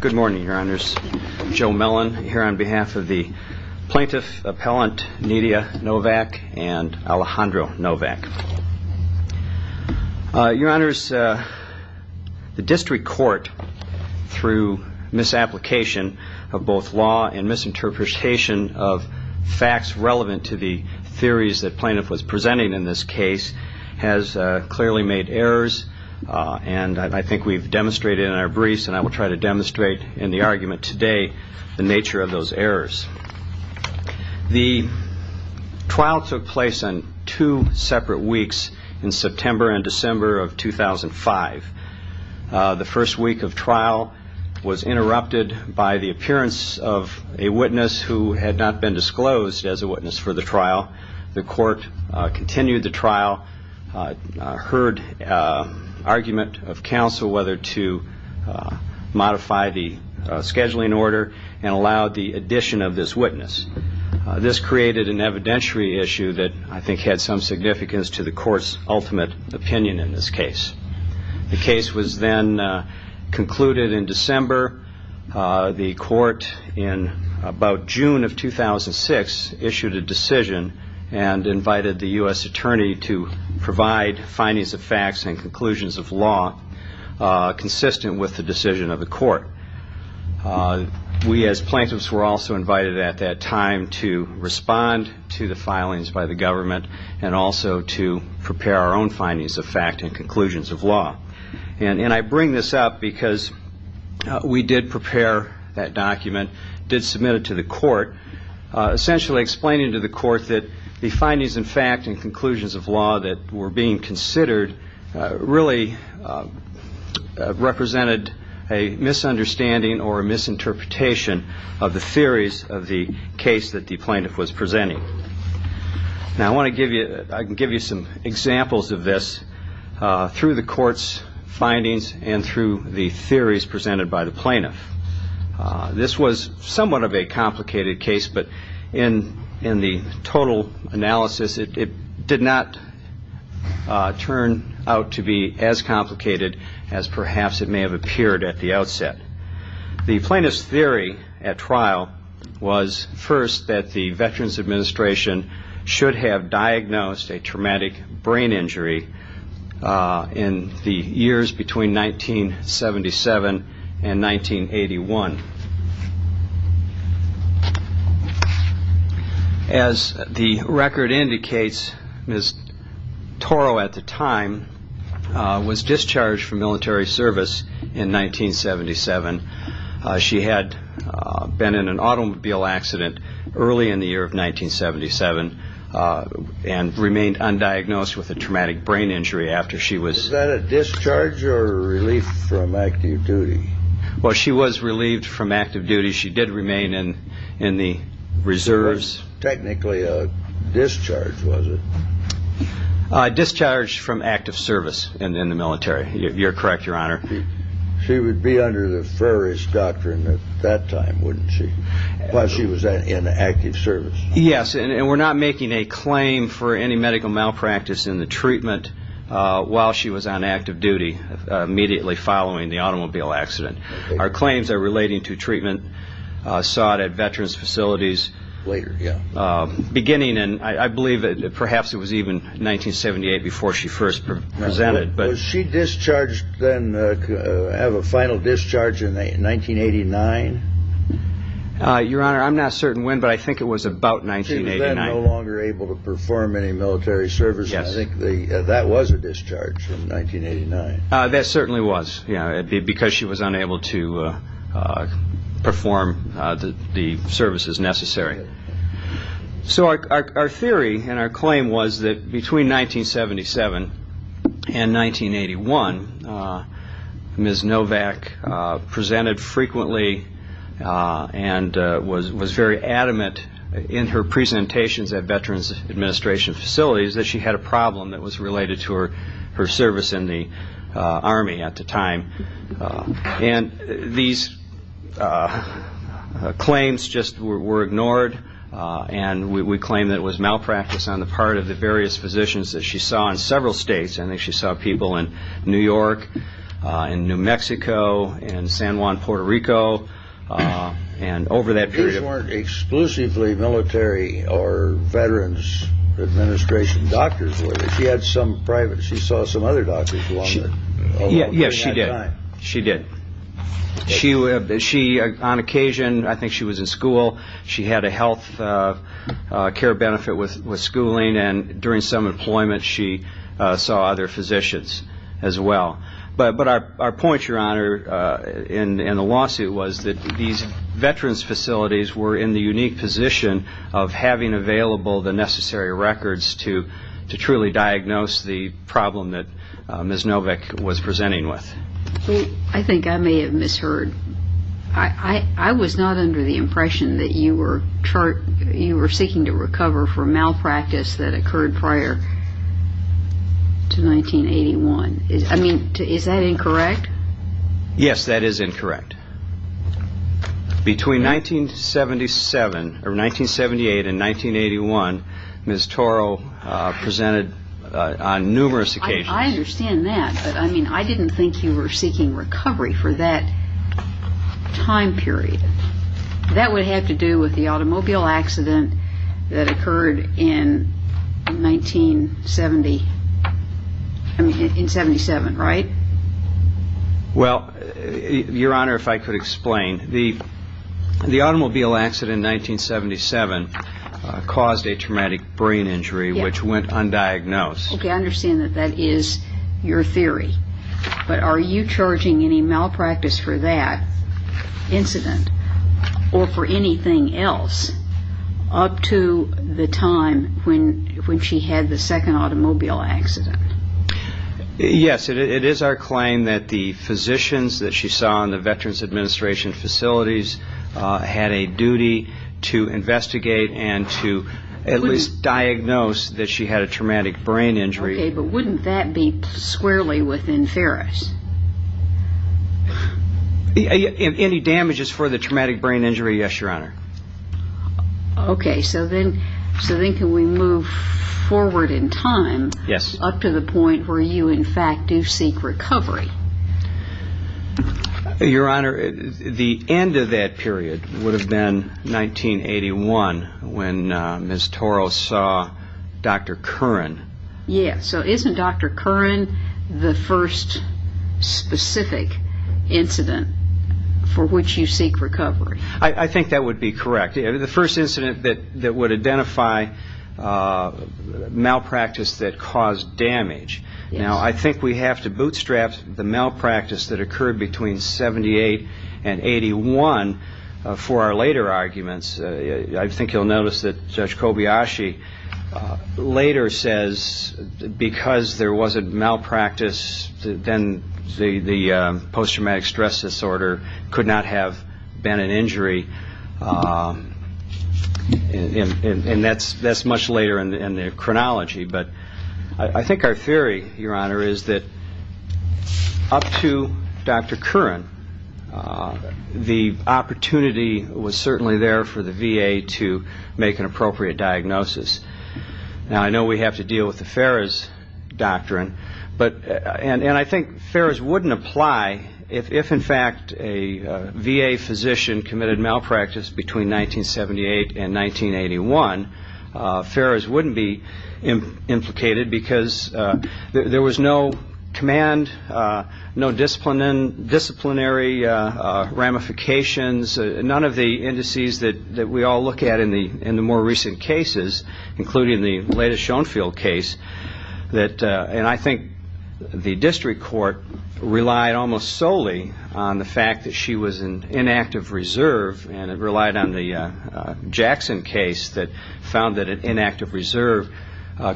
Good morning, Your Honors. Joe Mellon here on behalf of the Plaintiff Appellant Nydia Novak and Alejandro Novak. Your Honors, the District Court, through misapplication of both law and misinterpretation of facts relevant to the theories that plaintiff was presenting in this case, has clearly made errors and I think we've demonstrated in our briefs and I will try to demonstrate in the argument today the nature of those errors. The trial took place on two separate weeks in September and December of 2005. The first week of trial was interrupted by the appearance of a witness who had not been disclosed as a witness for the trial. The court continued the trial, heard argument of counsel whether to modify the scheduling order and allowed the addition of this witness. This created an evidentiary issue that I think had some significance to the court's ultimate opinion in this case. The case was then concluded in December. The court in about June of 2006 issued a decision and invited the U.S. Attorney to provide findings of facts and conclusions of law consistent with the decision of the court. We as plaintiffs were also invited at that time to respond to the filings by the government and also to prepare our own findings of fact and conclusions of law. And I bring this up because we did prepare that document, did submit it to the court, essentially explaining to the court that the findings of fact and conclusions of law that were being considered really represented a misunderstanding or a misinterpretation of the theories of the case that the plaintiff was presenting. Now I want to give you, I can give you some examples of this through the court's findings and through the theories presented by the plaintiff. This was somewhat of a complicated case, but in the total analysis it did not turn out to be as complicated as perhaps it may have appeared at the outset. The plaintiff's theory at trial was first that the Veterans Administration should have diagnosed a traumatic brain injury in the years between 1977 and 1981. As the record indicates, Ms. Toro at the time was discharged from military service in 1977. She had been in an automobile accident early in the year of 1977 and remained undiagnosed with a traumatic brain injury after she was... Was that a discharge or a relief from active duty? Well, she was relieved from active duty. She did remain in the reserves. So it was technically a discharge, was it? A discharge from active service in the military. You're correct, Your Honor. She would be under the Ferris doctrine at that time, wouldn't she? Plus she was in active service. Yes, and we're not making a claim for any medical malpractice in the treatment while she was on active duty immediately following the automobile accident. Our claims are relating to treatment sought at Veterans facilities beginning in, I believe, perhaps it was even 1978 before she first presented. Was she discharged then, have a final discharge in 1989? Your Honor, I'm not certain when, but I think it was about 1989. She was then no longer able to perform any military service, and I think that was a discharge from 1989. That certainly was, because she was unable to perform the services necessary. So our theory and our claim was that between 1977 and 1981, Ms. Novak presented frequently and was very adamant in her presentations at Veterans Administration facilities that she had a problem that was related to her service in the Army at the time. And these claims just were ignored, and we claim that it was malpractice on the part of the various physicians that she saw in several states. I think she saw people in New York, in New Mexico, in San Juan, Puerto Rico, and over that period of time. These weren't exclusively military or Veterans Administration doctors, were they? She saw some other doctors along that time. Yes, she did. On occasion, I think she was in school, she had a health care benefit with schooling, and during some employment she saw other physicians as well. But our point, Your Honor, in the lawsuit was that these Veterans facilities were in the unique position of having available the necessary records to truly diagnose the problem that Ms. Novak was presenting with. I think I may have misheard. I was not under the impression that you were seeking to recover from malpractice that occurred prior to 1981. I mean, is that incorrect? Yes, that is incorrect. Between 1978 and 1981, Ms. Toro presented on numerous occasions. I understand that, but I mean, I didn't think you were seeking recovery for that time period. That would have to do with the automobile accident that occurred in 1977, right? Well, Your Honor, if I could explain. The automobile accident in 1977 caused a traumatic brain injury which went undiagnosed. Okay, I understand that that is your theory. But are you charging any malpractice for that incident or for anything else up to the time when she had the second automobile accident? Yes, it is our claim that the physicians that she saw in the Veterans Administration facilities had a duty to investigate and to at least diagnose that she had a traumatic brain injury. Okay, but wouldn't that be squarely within Ferris? Any damages for the traumatic brain injury, yes, Your Honor. Okay, so then can we move forward in time up to the point where you, in fact, do seek recovery? Your Honor, the end of that period would have been 1981 when Ms. Toro saw Dr. Curran. Yes, so isn't Dr. Curran the first specific incident for which you seek recovery? I think that would be correct. The first incident that would identify malpractice that caused damage. Now, I think we have to bootstrap the malpractice that occurred between 1978 and 1981 for our later arguments. I think you'll notice that Judge Kobayashi later says because there was a malpractice, then the post-traumatic stress disorder could not have been an injury. And that's much later in the chronology. But I think our theory, Your Honor, is that up to Dr. Curran, the opportunity was certainly there for the VA to make an appropriate diagnosis. Now, I know we have to deal with the Ferris doctrine, and I think Ferris wouldn't apply if, in fact, a VA physician committed malpractice between 1978 and 1981. Ferris wouldn't be implicated because there was no command, no disciplinary ramifications, none of the indices that we all look at in the more recent cases, including the latest Schoenfeld case. And I think the district court relied almost solely on the fact that she was in inactive reserve, and it relied on the Jackson case that found that an inactive reserve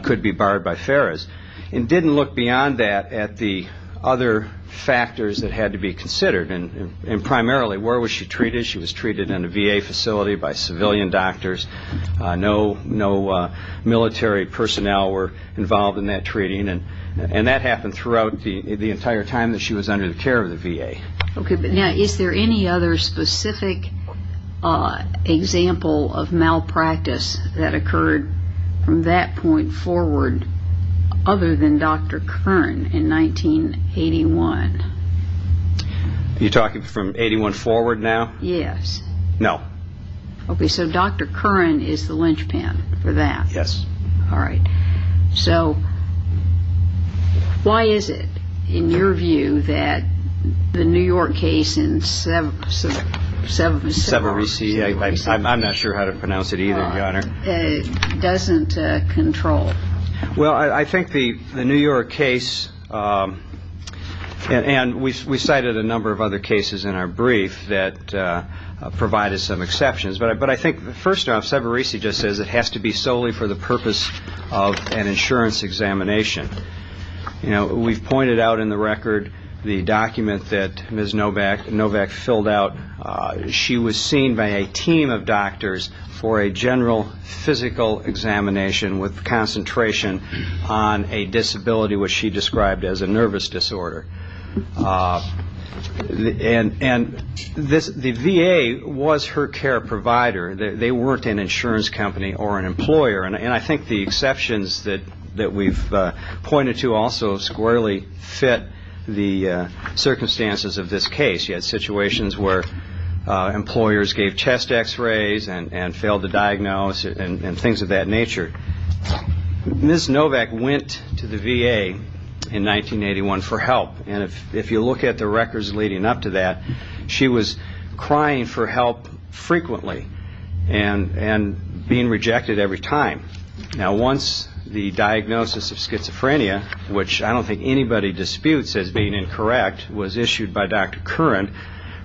could be barred by Ferris. It didn't look beyond that at the other factors that had to be considered, and primarily where was she treated? She was treated in a VA facility by civilian doctors. No military personnel were involved in that treating, and that happened throughout the entire time that she was under the care of the VA. Okay, but now, is there any other specific example of malpractice that occurred from that point forward other than Dr. Curran in 1981? You're talking from 81 forward now? Yes. No. Okay, so Dr. Curran is the linchpin for that. Yes. All right. So why is it, in your view, that the New York case in Sever- Sever- Sever- I'm not sure how to pronounce it either, Your Honor. Doesn't control? Well, I think the New York case, and we cited a number of other cases in our brief that provided some exceptions, but I think, first off, Severese just says it has to be solely for the purpose of an insurance examination. You know, we've pointed out in the record the document that Ms. Novak filled out. She was seen by a team of doctors for a general physical examination with concentration on a disability which she described as a nervous disorder. And the VA was her care provider. They weren't an insurance company or an employer, and I think the exceptions that we've pointed to also squarely fit the circumstances of this case. She had situations where employers gave chest X-rays and failed to diagnose and things of that nature. Ms. Novak went to the VA in 1981 for help, and if you look at the records leading up to that, she was crying for help frequently and being rejected every time. Now, once the diagnosis of schizophrenia, which I don't think anybody disputes as being incorrect, was issued by Dr. Curran,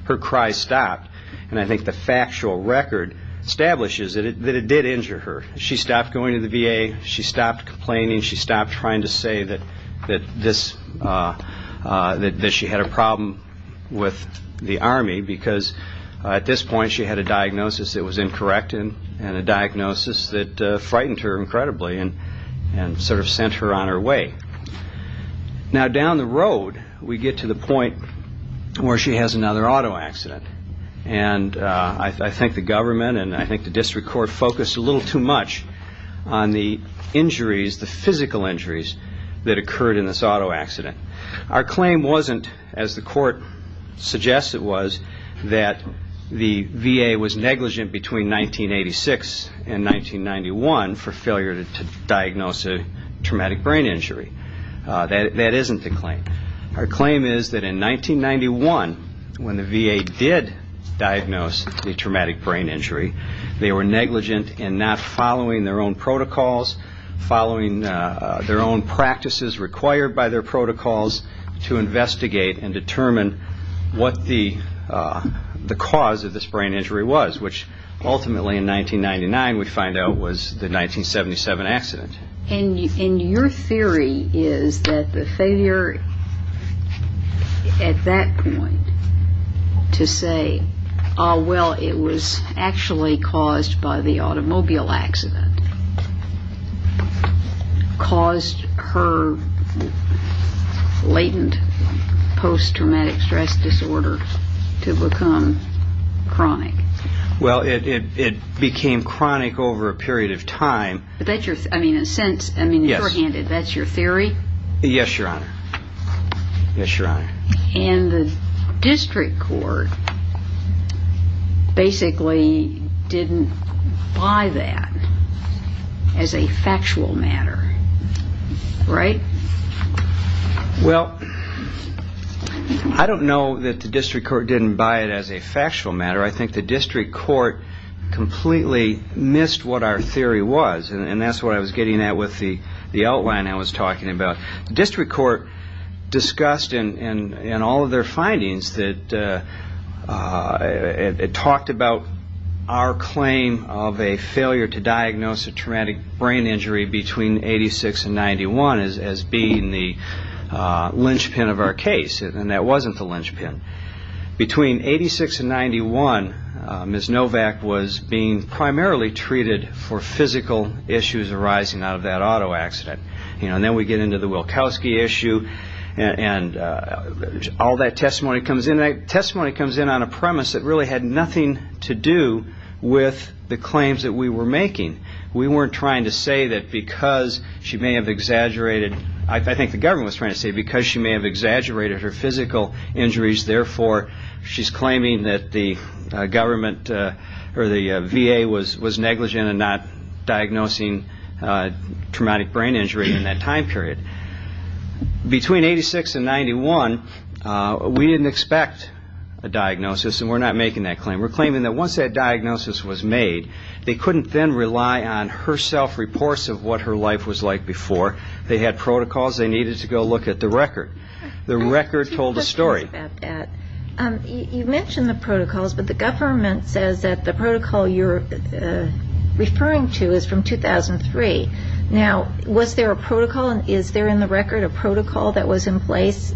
her cries stopped, and I think the factual record establishes that it did injure her. She stopped going to the VA. She stopped complaining. She stopped trying to say that she had a problem with the Army because at this point she had a diagnosis that was incorrect and a diagnosis that frightened her incredibly and sort of sent her on her way. Now, down the road we get to the point where she has another auto accident, and I think the government and I think the district court focused a little too much on the injuries, the physical injuries that occurred in this auto accident. Our claim wasn't, as the court suggests it was, that the VA was negligent between 1986 and 1991 for failure to diagnose a traumatic brain injury. That isn't the claim. Our claim is that in 1991, when the VA did diagnose a traumatic brain injury, they were negligent in not following their own protocols, following their own practices required by their protocols to investigate and determine what the cause of this brain injury was, which ultimately in 1999 we find out was the 1977 accident. And your theory is that the failure at that point to say, well, it was actually caused by the automobile accident, caused her latent post-traumatic stress disorder to become chronic. Well, it became chronic over a period of time. I mean, in a sense, I mean, shorthanded, that's your theory? And the district court basically didn't buy that as a factual matter, right? Well, I don't know that the district court didn't buy it as a factual matter. I think the district court completely missed what our theory was, and that's what I was getting at with the outline I was talking about. The district court discussed in all of their findings that it talked about our claim of a failure to diagnose a traumatic brain injury between 86 and 91 as being the linchpin of our case, and that wasn't the linchpin. Between 86 and 91, Ms. Novak was being primarily treated for physical issues arising out of that auto accident. And then we get into the Wilkowski issue, and all that testimony comes in, and that testimony comes in on a premise that really had nothing to do with the claims that we were making. We weren't trying to say that because she may have exaggerated, I think the government was trying to say because she may have exaggerated her physical injuries, therefore she's claiming that the government or the VA was negligent in not diagnosing traumatic brain injury in that time period. Between 86 and 91, we didn't expect a diagnosis, and we're not making that claim. We're claiming that once that diagnosis was made, they couldn't then rely on her self-reports of what her life was like before. They had protocols they needed to go look at the record. The record told a story. You mentioned the protocols, but the government says that the protocol you're referring to is from 2003. Now, was there a protocol? Is there in the record a protocol that was in place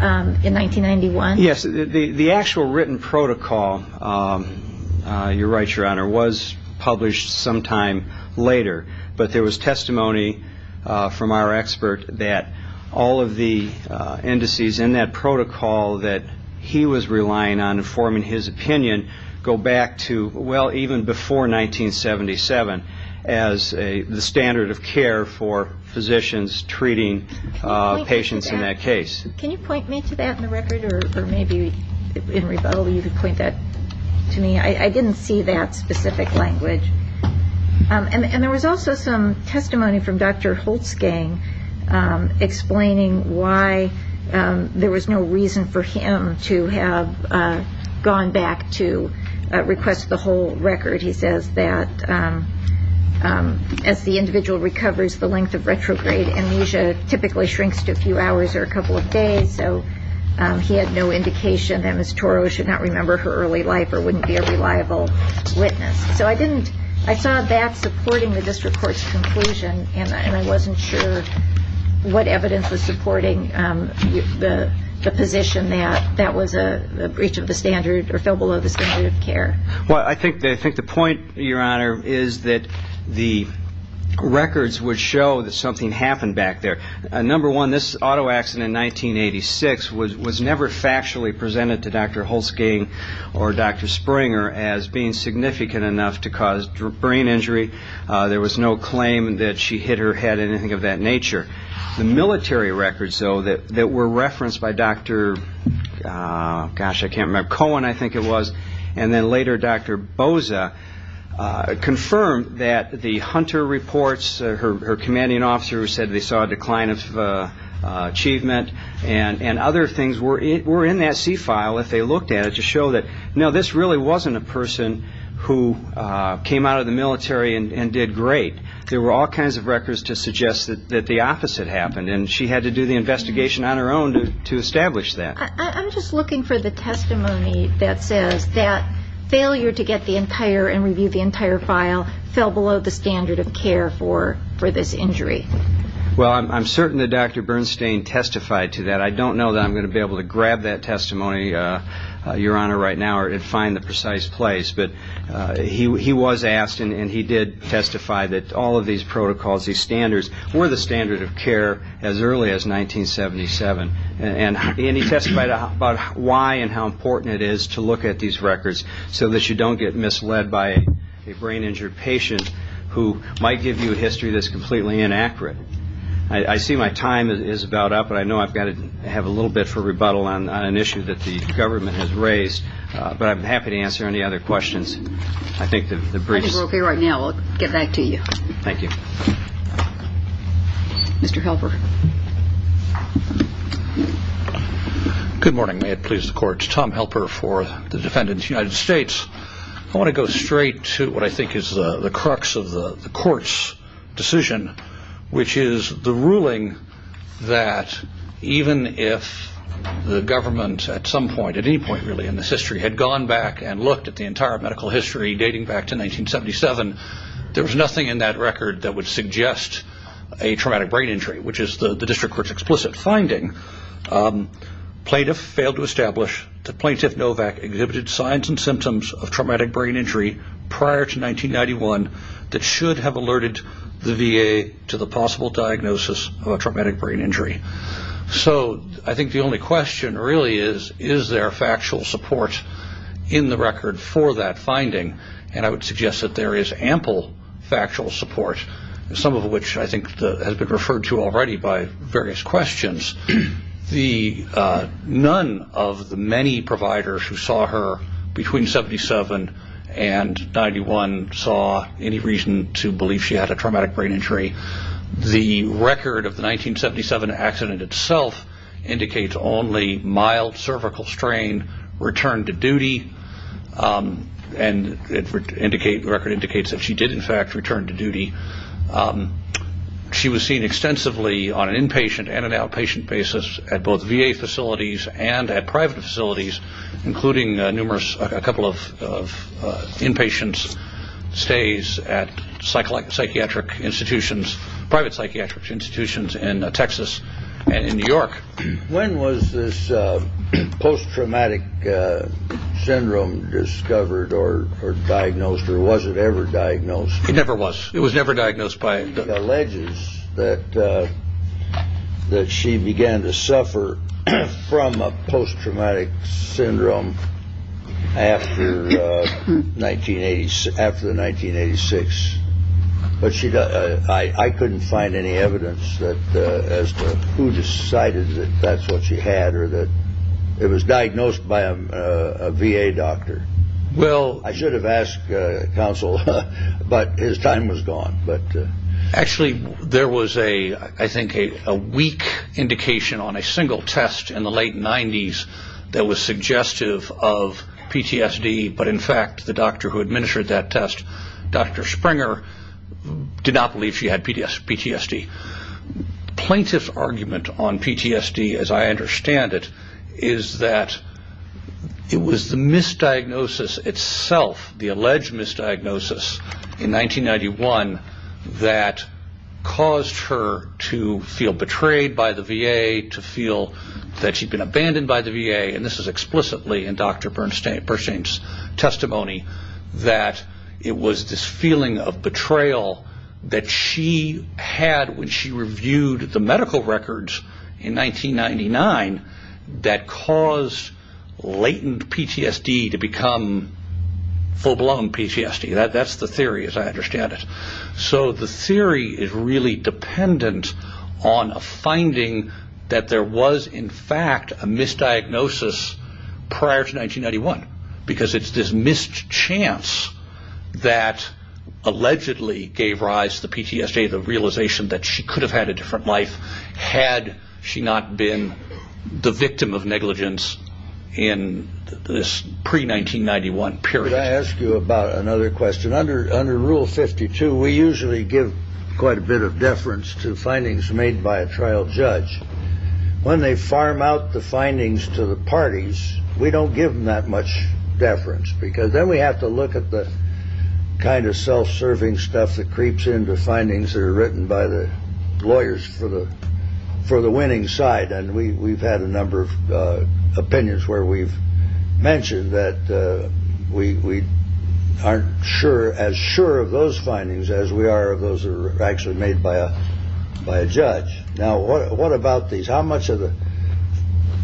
in 1991? Yes. The actual written protocol, you're right, Your Honor, was published sometime later, but there was testimony from our expert that all of the indices in that protocol that he was relying on in forming his opinion go back to, well, even before 1977, as the standard of care for physicians treating patients in that case. Can you point me to that in the record, or maybe, Henry Butler, you could point that to me? I didn't see that specific language. And there was also some testimony from Dr. Holtzgang explaining why there was no reason for him to have gone back to request the whole record. He says that as the individual recovers, the length of retrograde amnesia typically shrinks to a few hours or a couple of days, so he had no indication that Ms. Toro should not remember her early life or wouldn't be a reliable witness. So I saw that supporting the district court's conclusion, and I wasn't sure what evidence was supporting the position that that was a breach of the standard or fell below the standard of care. Well, I think the point, Your Honor, is that the records would show that something happened back there. Number one, this auto accident in 1986 was never factually presented to Dr. Holtzgang or Dr. Springer as being significant enough to cause brain injury. There was no claim that she hit her head or anything of that nature. The military records, though, that were referenced by Dr. Cohen, I think it was, and then later Dr. Boza, confirmed that the Hunter reports, her commanding officer said they saw a decline of achievement and other things were in that C file if they looked at it to show that, no, this really wasn't a person who came out of the military and did great. There were all kinds of records to suggest that the opposite happened, and she had to do the investigation on her own to establish that. I'm just looking for the testimony that says that failure to get the entire and review the entire file fell below the standard of care for this injury. Well, I'm certain that Dr. Bernstein testified to that. I don't know that I'm going to be able to grab that testimony, Your Honor, right now or find the precise place, but he was asked and he did testify that all of these protocols, these standards were the standard of care as early as 1977, and he testified about why and how important it is to look at these records so that you don't get misled by a brain-injured patient who might give you a history that's completely inaccurate. I see my time is about up, but I know I've got to have a little bit for rebuttal on an issue that the government has raised, but I'm happy to answer any other questions. I think the briefs— I think we're okay right now. We'll get back to you. Thank you. Mr. Helper. Good morning. May it please the Court. Tom Helper for the defendants of the United States. I want to go straight to what I think is the crux of the Court's decision, which is the ruling that even if the government at some point, at any point really in its history, had gone back and looked at the entire medical history dating back to 1977, there was nothing in that record that would suggest a traumatic brain injury, which is the district court's explicit finding. Plaintiff failed to establish that Plaintiff Novak exhibited signs and symptoms of traumatic brain injury prior to 1991 that should have alerted the VA to the possible diagnosis of a traumatic brain injury. So I think the only question really is, is there factual support in the record for that finding? And I would suggest that there is ample factual support, some of which I think has been referred to already by various questions. None of the many providers who saw her between 1977 and 1991 saw any reason to believe she had a traumatic brain injury. The record of the 1977 accident itself indicates only mild cervical strain, return to duty, and the record indicates that she did, in fact, return to duty. She was seen extensively on an inpatient and an outpatient basis at both VA facilities and at private facilities, including numerous, a couple of inpatient stays at psychiatric institutions, private psychiatric institutions in Texas and in New York. When was this post-traumatic syndrome discovered or diagnosed or was it ever diagnosed? It never was. It was never diagnosed by. It alleges that she began to suffer from a post-traumatic syndrome after the 1986. But I couldn't find any evidence as to who decided that that's what she had or that it was diagnosed by a VA doctor. Well, I should have asked counsel, but his time was gone. But actually, there was a I think a weak indication on a single test in the late 90s that was suggestive of PTSD. But in fact, the doctor who administered that test, Dr. Springer, did not believe she had PTSD. Plaintiff's argument on PTSD, as I understand it, is that it was the misdiagnosis itself, the alleged misdiagnosis in 1991 that caused her to feel betrayed by the VA, to feel that she'd been abandoned by the VA. And this is explicitly in Dr. Bernstein's testimony that it was this feeling of betrayal that she had when she reviewed the medical records in 1999 that caused latent PTSD to become full-blown PTSD. That's the theory, as I understand it. So the theory is really dependent on a finding that there was, in fact, a misdiagnosis prior to 1991 because it's this missed chance that allegedly gave rise to the PTSD, the realization that she could have had a different life had she not been the victim of negligence in this pre-1991 period. Could I ask you about another question? Under Rule 52, we usually give quite a bit of deference to findings made by a trial judge. When they farm out the findings to the parties, we don't give them that much deference because then we have to look at the kind of self-serving stuff that creeps into findings that are written by the lawyers for the winning side. And we've had a number of opinions where we've mentioned that we aren't sure as sure of those findings as we are. Those are actually made by a by a judge. Now, what about these? How much of the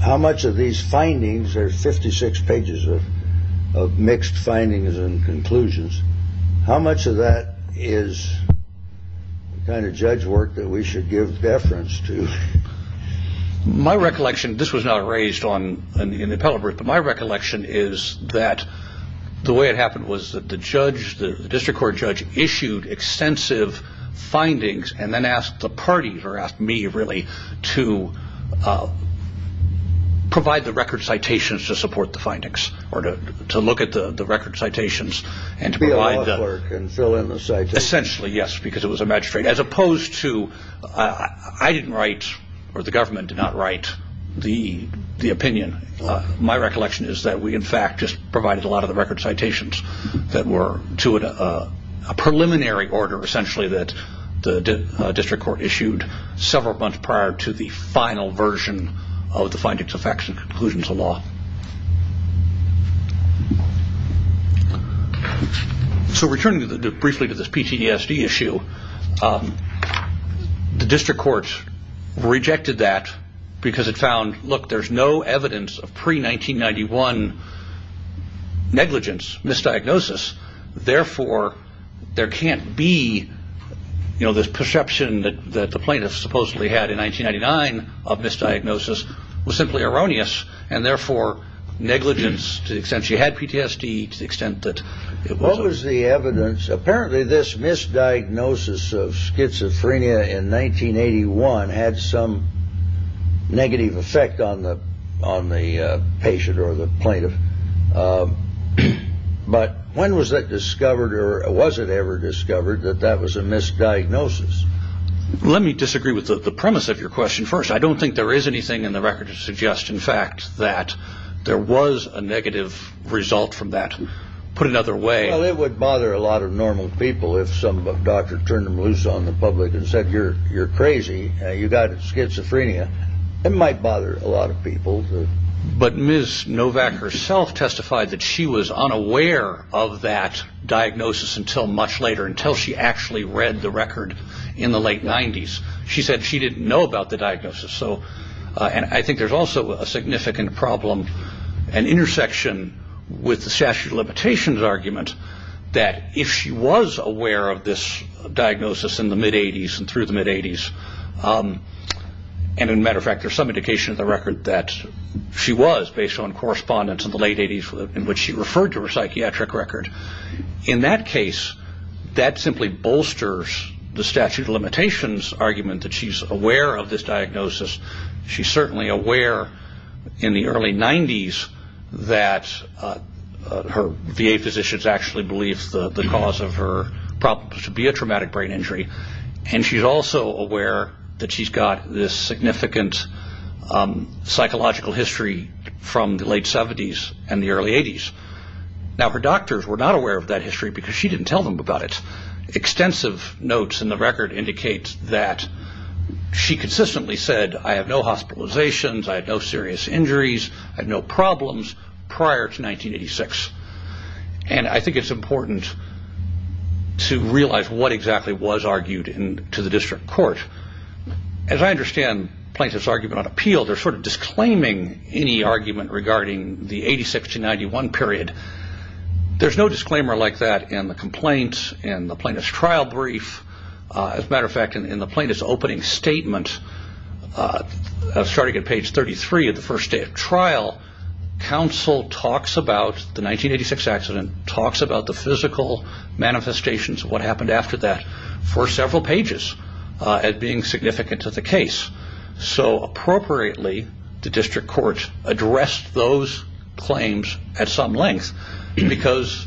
how much of these findings are 56 pages of mixed findings and conclusions? How much of that is kind of judge work that we should give deference to? My recollection, this was not raised on an appellate, but my recollection is that the way it happened was that the judge, the district court judge issued extensive findings and then asked the parties or asked me really to provide the record citations to support the findings or to look at the record citations and fill in the citation. Essentially, yes, because it was a magistrate as opposed to I didn't write or the government did not write the opinion. My recollection is that we, in fact, just provided a lot of the record citations that were to a preliminary order, essentially, that the district court issued several months prior to the final version of the findings, effects and conclusions of law. So returning briefly to this PTSD issue, the district court rejected that because it found, look, there's no evidence of pre-1991 negligence, misdiagnosis. Therefore, there can't be this perception that the plaintiffs supposedly had in 1999 of misdiagnosis was simply erroneous and therefore negligence. To the extent she had PTSD, to the extent that it was the evidence. Apparently, this misdiagnosis of schizophrenia in 1981 had some negative effect on the on the patient or the plaintiff. But when was that discovered or was it ever discovered that that was a misdiagnosis? Let me disagree with the premise of your question. First, I don't think there is anything in the record to suggest, in fact, that there was a negative result from that. Put another way, it would bother a lot of normal people if some doctor turned them loose on the public and said, you're you're crazy. You got schizophrenia. It might bother a lot of people. But Ms. Novak herself testified that she was unaware of that diagnosis until much later, until she actually read the record in the late 90s. She said she didn't know about the diagnosis. So and I think there's also a significant problem, an intersection with the statute of limitations argument, that if she was aware of this diagnosis in the mid 80s and through the mid 80s. And in matter of fact, there's some indication of the record that she was based on correspondence in the late 80s in which she referred to her psychiatric record. In that case, that simply bolsters the statute of limitations argument that she's aware of this diagnosis. She's certainly aware in the early 90s that her VA physicians actually believe the cause of her problems to be a traumatic brain injury. And she's also aware that she's got this significant psychological history from the late 70s and the early 80s. Now, her doctors were not aware of that history because she didn't tell them about it. Extensive notes in the record indicates that she consistently said, I have no hospitalizations. I had no serious injuries. I had no problems prior to 1986. And I think it's important to realize what exactly was argued to the district court. As I understand plaintiff's argument on appeal, they're sort of disclaiming any argument regarding the 86-91 period. There's no disclaimer like that in the complaint, in the plaintiff's trial brief. As a matter of fact, in the plaintiff's opening statement, starting at page 33 of the first day of trial, counsel talks about the 1986 accident, talks about the physical manifestations of what happened after that for several pages. And being significant to the case. So appropriately, the district court addressed those claims at some length. Because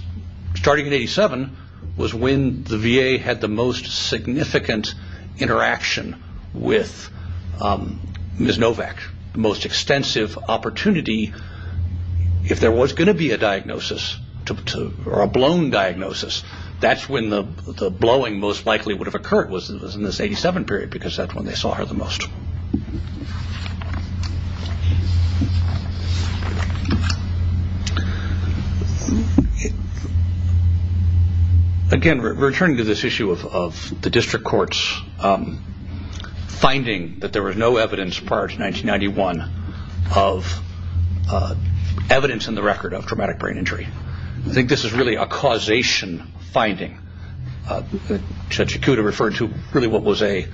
starting in 87 was when the VA had the most significant interaction with Ms. Novak. The most extensive opportunity, if there was going to be a diagnosis, or a blown diagnosis, that's when the blowing most likely would have occurred was in this 87 period because that's when they saw her the most. Again, returning to this issue of the district court's finding that there was no evidence prior to 1991 of evidence in the record of traumatic brain injury. I think this is really a causation finding. Judge Ikuda referred to really what was a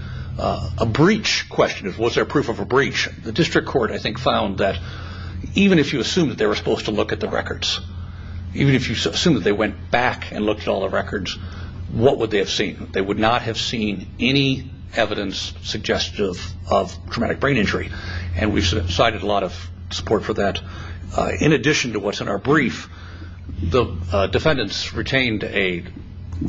breach question. Was there proof of a breach? The district court, I think, found that even if you assume that they were supposed to look at the records, even if you assume that they went back and looked at all the records, what would they have seen? They would not have seen any evidence suggestive of traumatic brain injury. And we've cited a lot of support for that. In addition to what's in our brief, the defendants retained a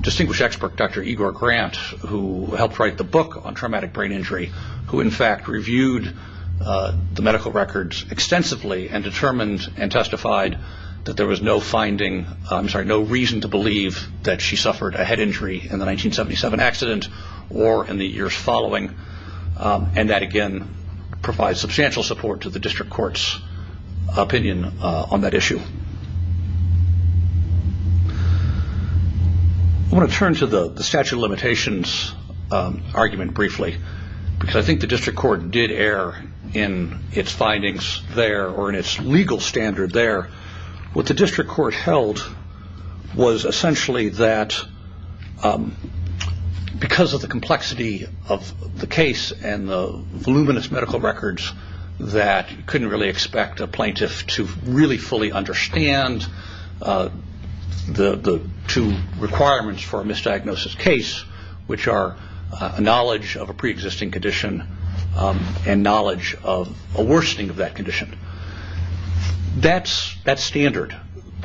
distinguished expert, Dr. Igor Grant, who helped write the book on traumatic brain injury, who in fact reviewed the medical records extensively and determined and testified that there was no reason to believe that she suffered a head injury in the 1977 accident or in the years following. And that, again, provides substantial support to the district court's opinion on that issue. I want to turn to the statute of limitations argument briefly. I think the district court did err in its findings there or in its legal standard there. What the district court held was essentially that because of the complexity of the case and the voluminous medical records that you couldn't really expect a plaintiff to really fully understand the two requirements for a misdiagnosis case, which are a knowledge of a preexisting condition and knowledge of a worsening of that condition. That standard,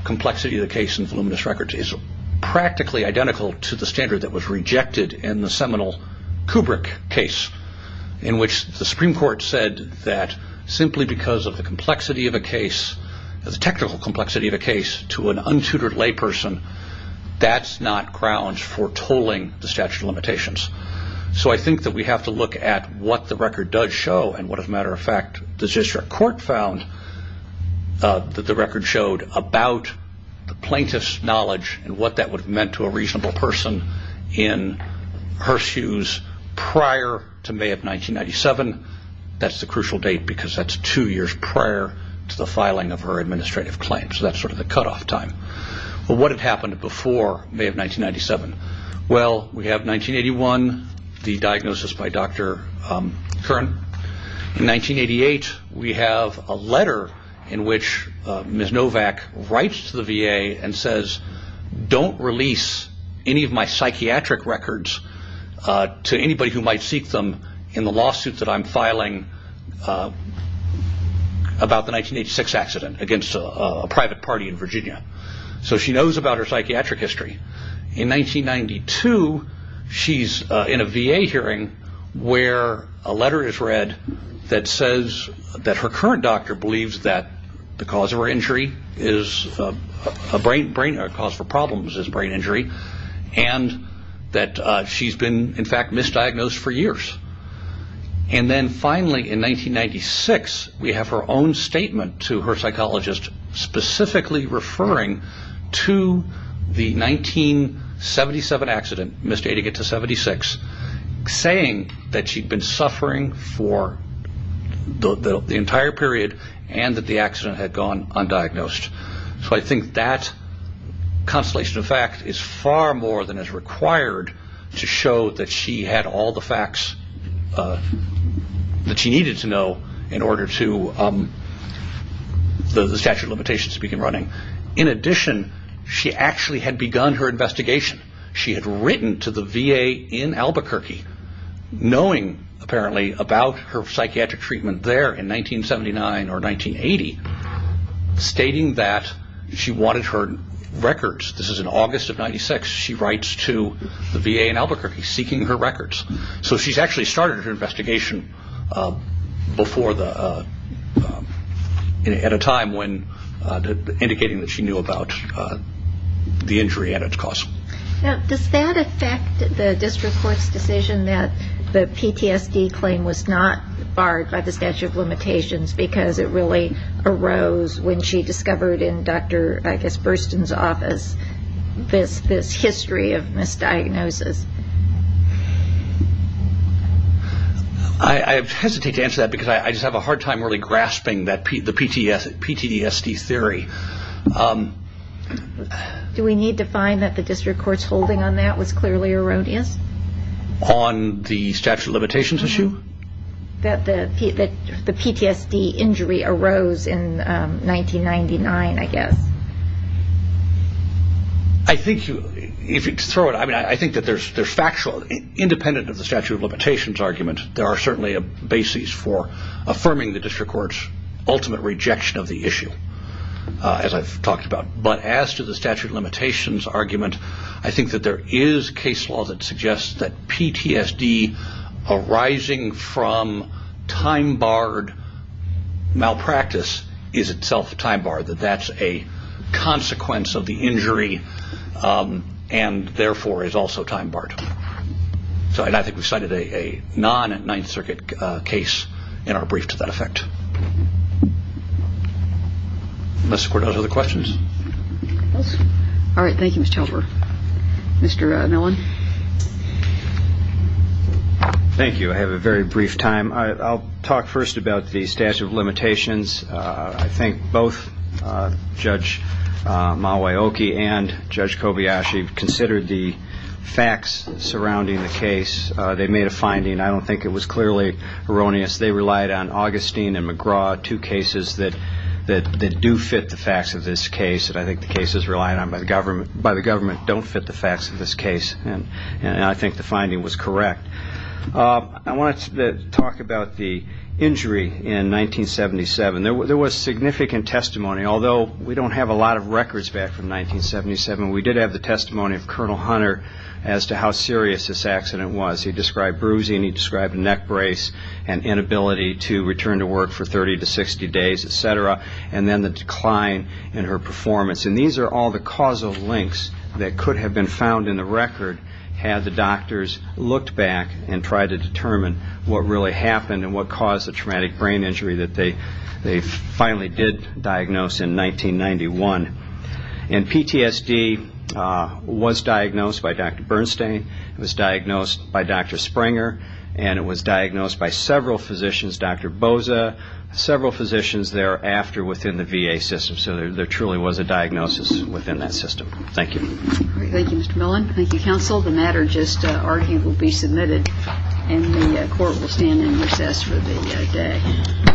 complexity of the case and voluminous records, is practically identical to the standard that was rejected in the seminal Kubrick case, in which the Supreme Court said that simply because of the complexity of a case, the technical complexity of a case, to an untutored layperson, that's not grounds for tolling the statute of limitations. So I think that we have to look at what the record does show and what, as a matter of fact, the district court found that the record showed about the plaintiff's knowledge and what that would have meant to a reasonable person in her shoes prior to May of 1997. That's the crucial date because that's two years prior to the filing of her administrative claim. So that's sort of the cutoff time. What had happened before May of 1997? Well, we have 1981, the diagnosis by Dr. Curran. In 1988, we have a letter in which Ms. Novak writes to the VA and says, don't release any of my psychiatric records to anybody who might seek them in the lawsuit that I'm filing about the 1986 accident against a private party in Virginia. So she knows about her psychiatric history. In 1992, she's in a VA hearing where a letter is read that says that her current doctor believes that the cause for problems is brain injury and that she's been, in fact, misdiagnosed for years. And then finally, in 1996, we have her own statement to her psychologist specifically referring to the 1977 accident, misdiagnosed to 76, saying that she'd been suffering for the entire period and that the accident had gone undiagnosed. So I think that constellation of fact is far more than is required to show that she had all the facts that she needed to know in order for the statute of limitations to begin running. In addition, she actually had begun her investigation. She had written to the VA in Albuquerque, knowing apparently about her psychiatric treatment there in 1979 or 1980, stating that she wanted her records. This is in August of 1996. She writes to the VA in Albuquerque seeking her records. So she's actually started her investigation at a time when indicating that she knew about the injury and its cause. Now, does that affect the district court's decision that the PTSD claim was not barred by the statute of limitations because it really arose when she discovered in Dr. Burstyn's office this history of misdiagnosis? I hesitate to answer that because I just have a hard time really grasping the PTSD theory. Do we need to find that the district court's holding on that was clearly erroneous? On the statute of limitations issue? That the PTSD injury arose in 1999, I guess. I think that there's factual, independent of the statute of limitations argument, there are certainly a basis for affirming the district court's ultimate rejection of the issue, as I've talked about. But as to the statute of limitations argument, I think that there is case law that suggests that PTSD arising from time-barred malpractice is itself time-barred, that that's a consequence of the injury and therefore is also time-barred. And I think we've cited a non-Ninth Circuit case in our brief to that effect. Unless the court has other questions. All right. Thank you, Mr. Helper. Mr. Millen. Thank you. I have a very brief time. I'll talk first about the statute of limitations. I think both Judge Maweoki and Judge Kobayashi considered the facts surrounding the case. They made a finding. I don't think it was clearly erroneous. They relied on Augustine and McGraw, two cases that do fit the facts of this case, and I think the cases relied on by the government don't fit the facts of this case. And I think the finding was correct. I want to talk about the injury in 1977. There was significant testimony, although we don't have a lot of records back from 1977. We did have the testimony of Colonel Hunter as to how serious this accident was. He described bruising. He described neck brace and inability to return to work for 30 to 60 days, et cetera. And then the decline in her performance. And these are all the causal links that could have been found in the record had the doctors looked back and tried to determine what really happened and what caused the traumatic brain injury that they finally did diagnose in 1991. And PTSD was diagnosed by Dr. Bernstein. It was diagnosed by Dr. Springer, and it was diagnosed by several physicians, Dr. Boza, several physicians thereafter within the VA system. So there truly was a diagnosis within that system. Thank you. Thank you, Mr. Millen. Thank you, counsel. The matter just argued will be submitted, and the court will stand in recess for the day.